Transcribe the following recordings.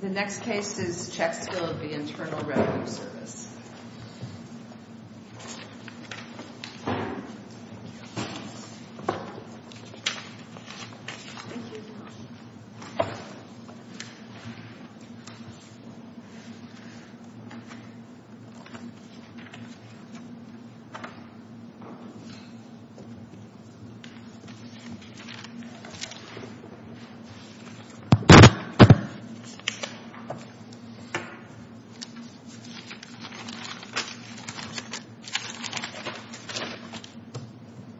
The next case is Checksfield v. Internal Revenue Service.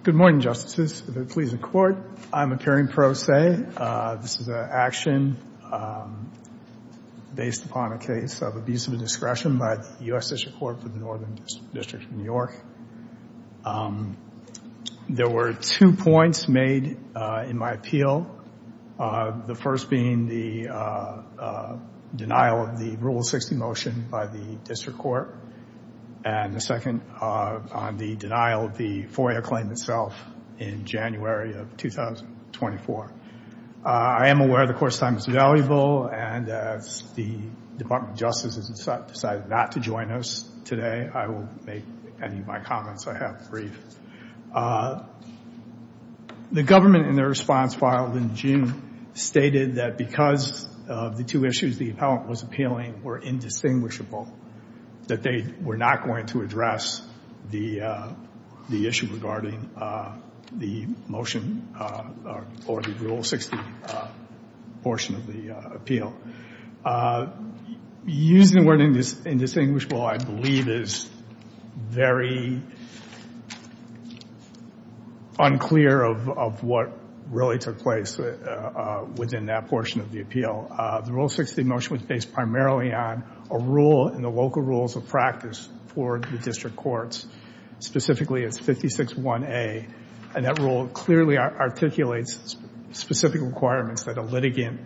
Good morning, Justices. If it pleases the Court, I am appearing pro se. This is an action based upon a case of abuse of discretion by the U.S. District Court for the Northern District of New York. There were two points made in my appeal, the first being the denial of the Rule 60 motion by the District Court, and the second on the denial of the FOIA claim itself in January of 2024. I am aware the Court's time is valuable, and as the Department of Justice has decided not to join us today, I will make any of my comments I have brief. The government, in their response filed in June, stated that because of the two issues the appellant was appealing were indistinguishable, that they were not going to address the issue regarding the motion or the Rule 60 portion of the appeal. Using the word indistinguishable, I believe, is very unclear of what really took place within that portion of the appeal. The Rule 60 motion was based primarily on a rule in the local rules of practice for the District Courts, specifically it's 56-1A, and that rule clearly articulates specific requirements that a litigant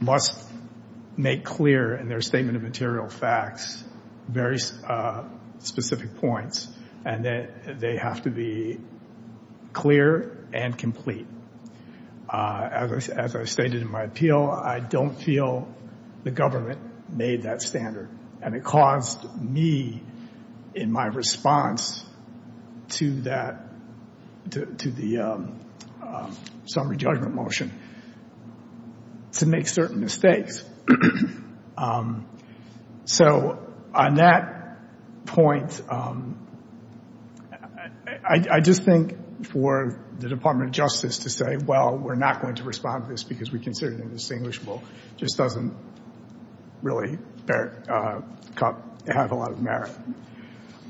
must make clear in their statement of material facts, very specific points, and that they have to be clear and complete. As I stated in my appeal, I don't feel the government made that standard, and it caused me, in my response to the summary judgment motion, to make certain mistakes. So, on that point, I just think for the Department of Justice to say, well, we're not going to respond to this because we consider it indistinguishable, just doesn't really have a lot of merit.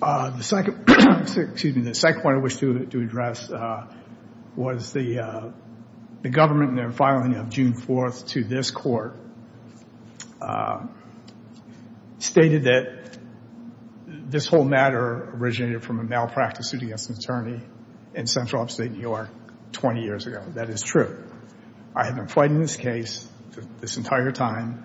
The second point I wish to address was the government, in their filing of June 4th to this Court, stated that this whole matter originated from a malpractice suit against an attorney in Central Upstate New York 20 years ago. That is true. I have been fighting this case this entire time.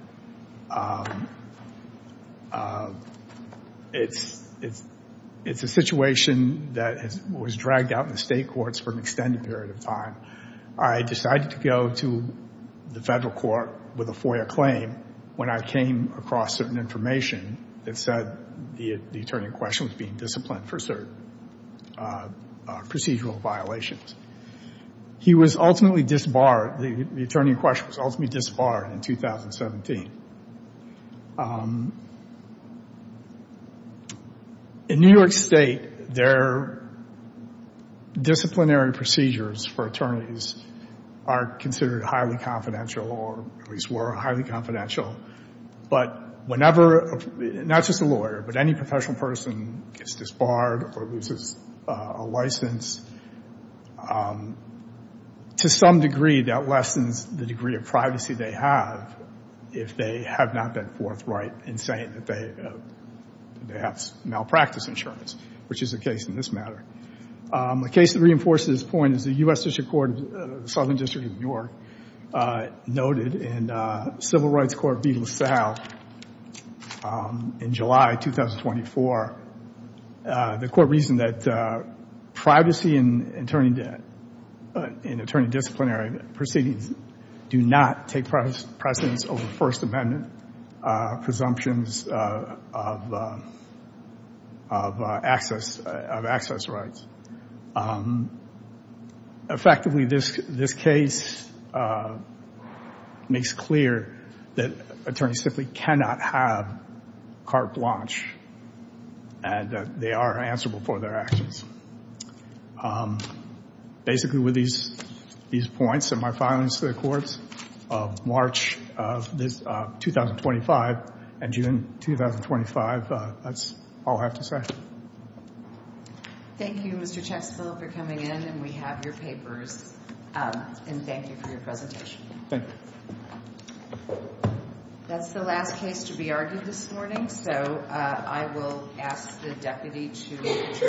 It's a situation that was dragged out in the state courts for an extended period of time. I decided to go to the federal court with a FOIA claim when I came across certain information that said the attorney in question was being disciplined for certain procedural violations. He was ultimately disbarred, the attorney in question was ultimately disbarred in 2017. In New York State, their disciplinary procedures for attorneys are considered highly confidential, or at least were highly confidential. But whenever, not just a lawyer, but any professional person gets disbarred or loses a license, to some degree that lessens the degree of privacy they have if they have not been forthright in saying that they have malpractice insurance, which is the case in this matter. A case that reinforces this point is the U.S. District Court of the Southern District of New York noted in Civil Rights Court v. LaSalle in July 2024. The court reasoned that privacy in attorney disciplinary proceedings do not take precedence over First Amendment presumptions of access rights. Effectively, this case makes clear that attorneys simply cannot have carte blanche and that they are answerable for their actions. Basically, with these points and my filings to the courts of March of 2025 and June 2025, that's all I have to say. Thank you, Mr. Chexfield, for coming in and we have your papers and thank you for your presentation. Thank you. That's the last case to be argued this morning, so I will ask the deputy to adjourn.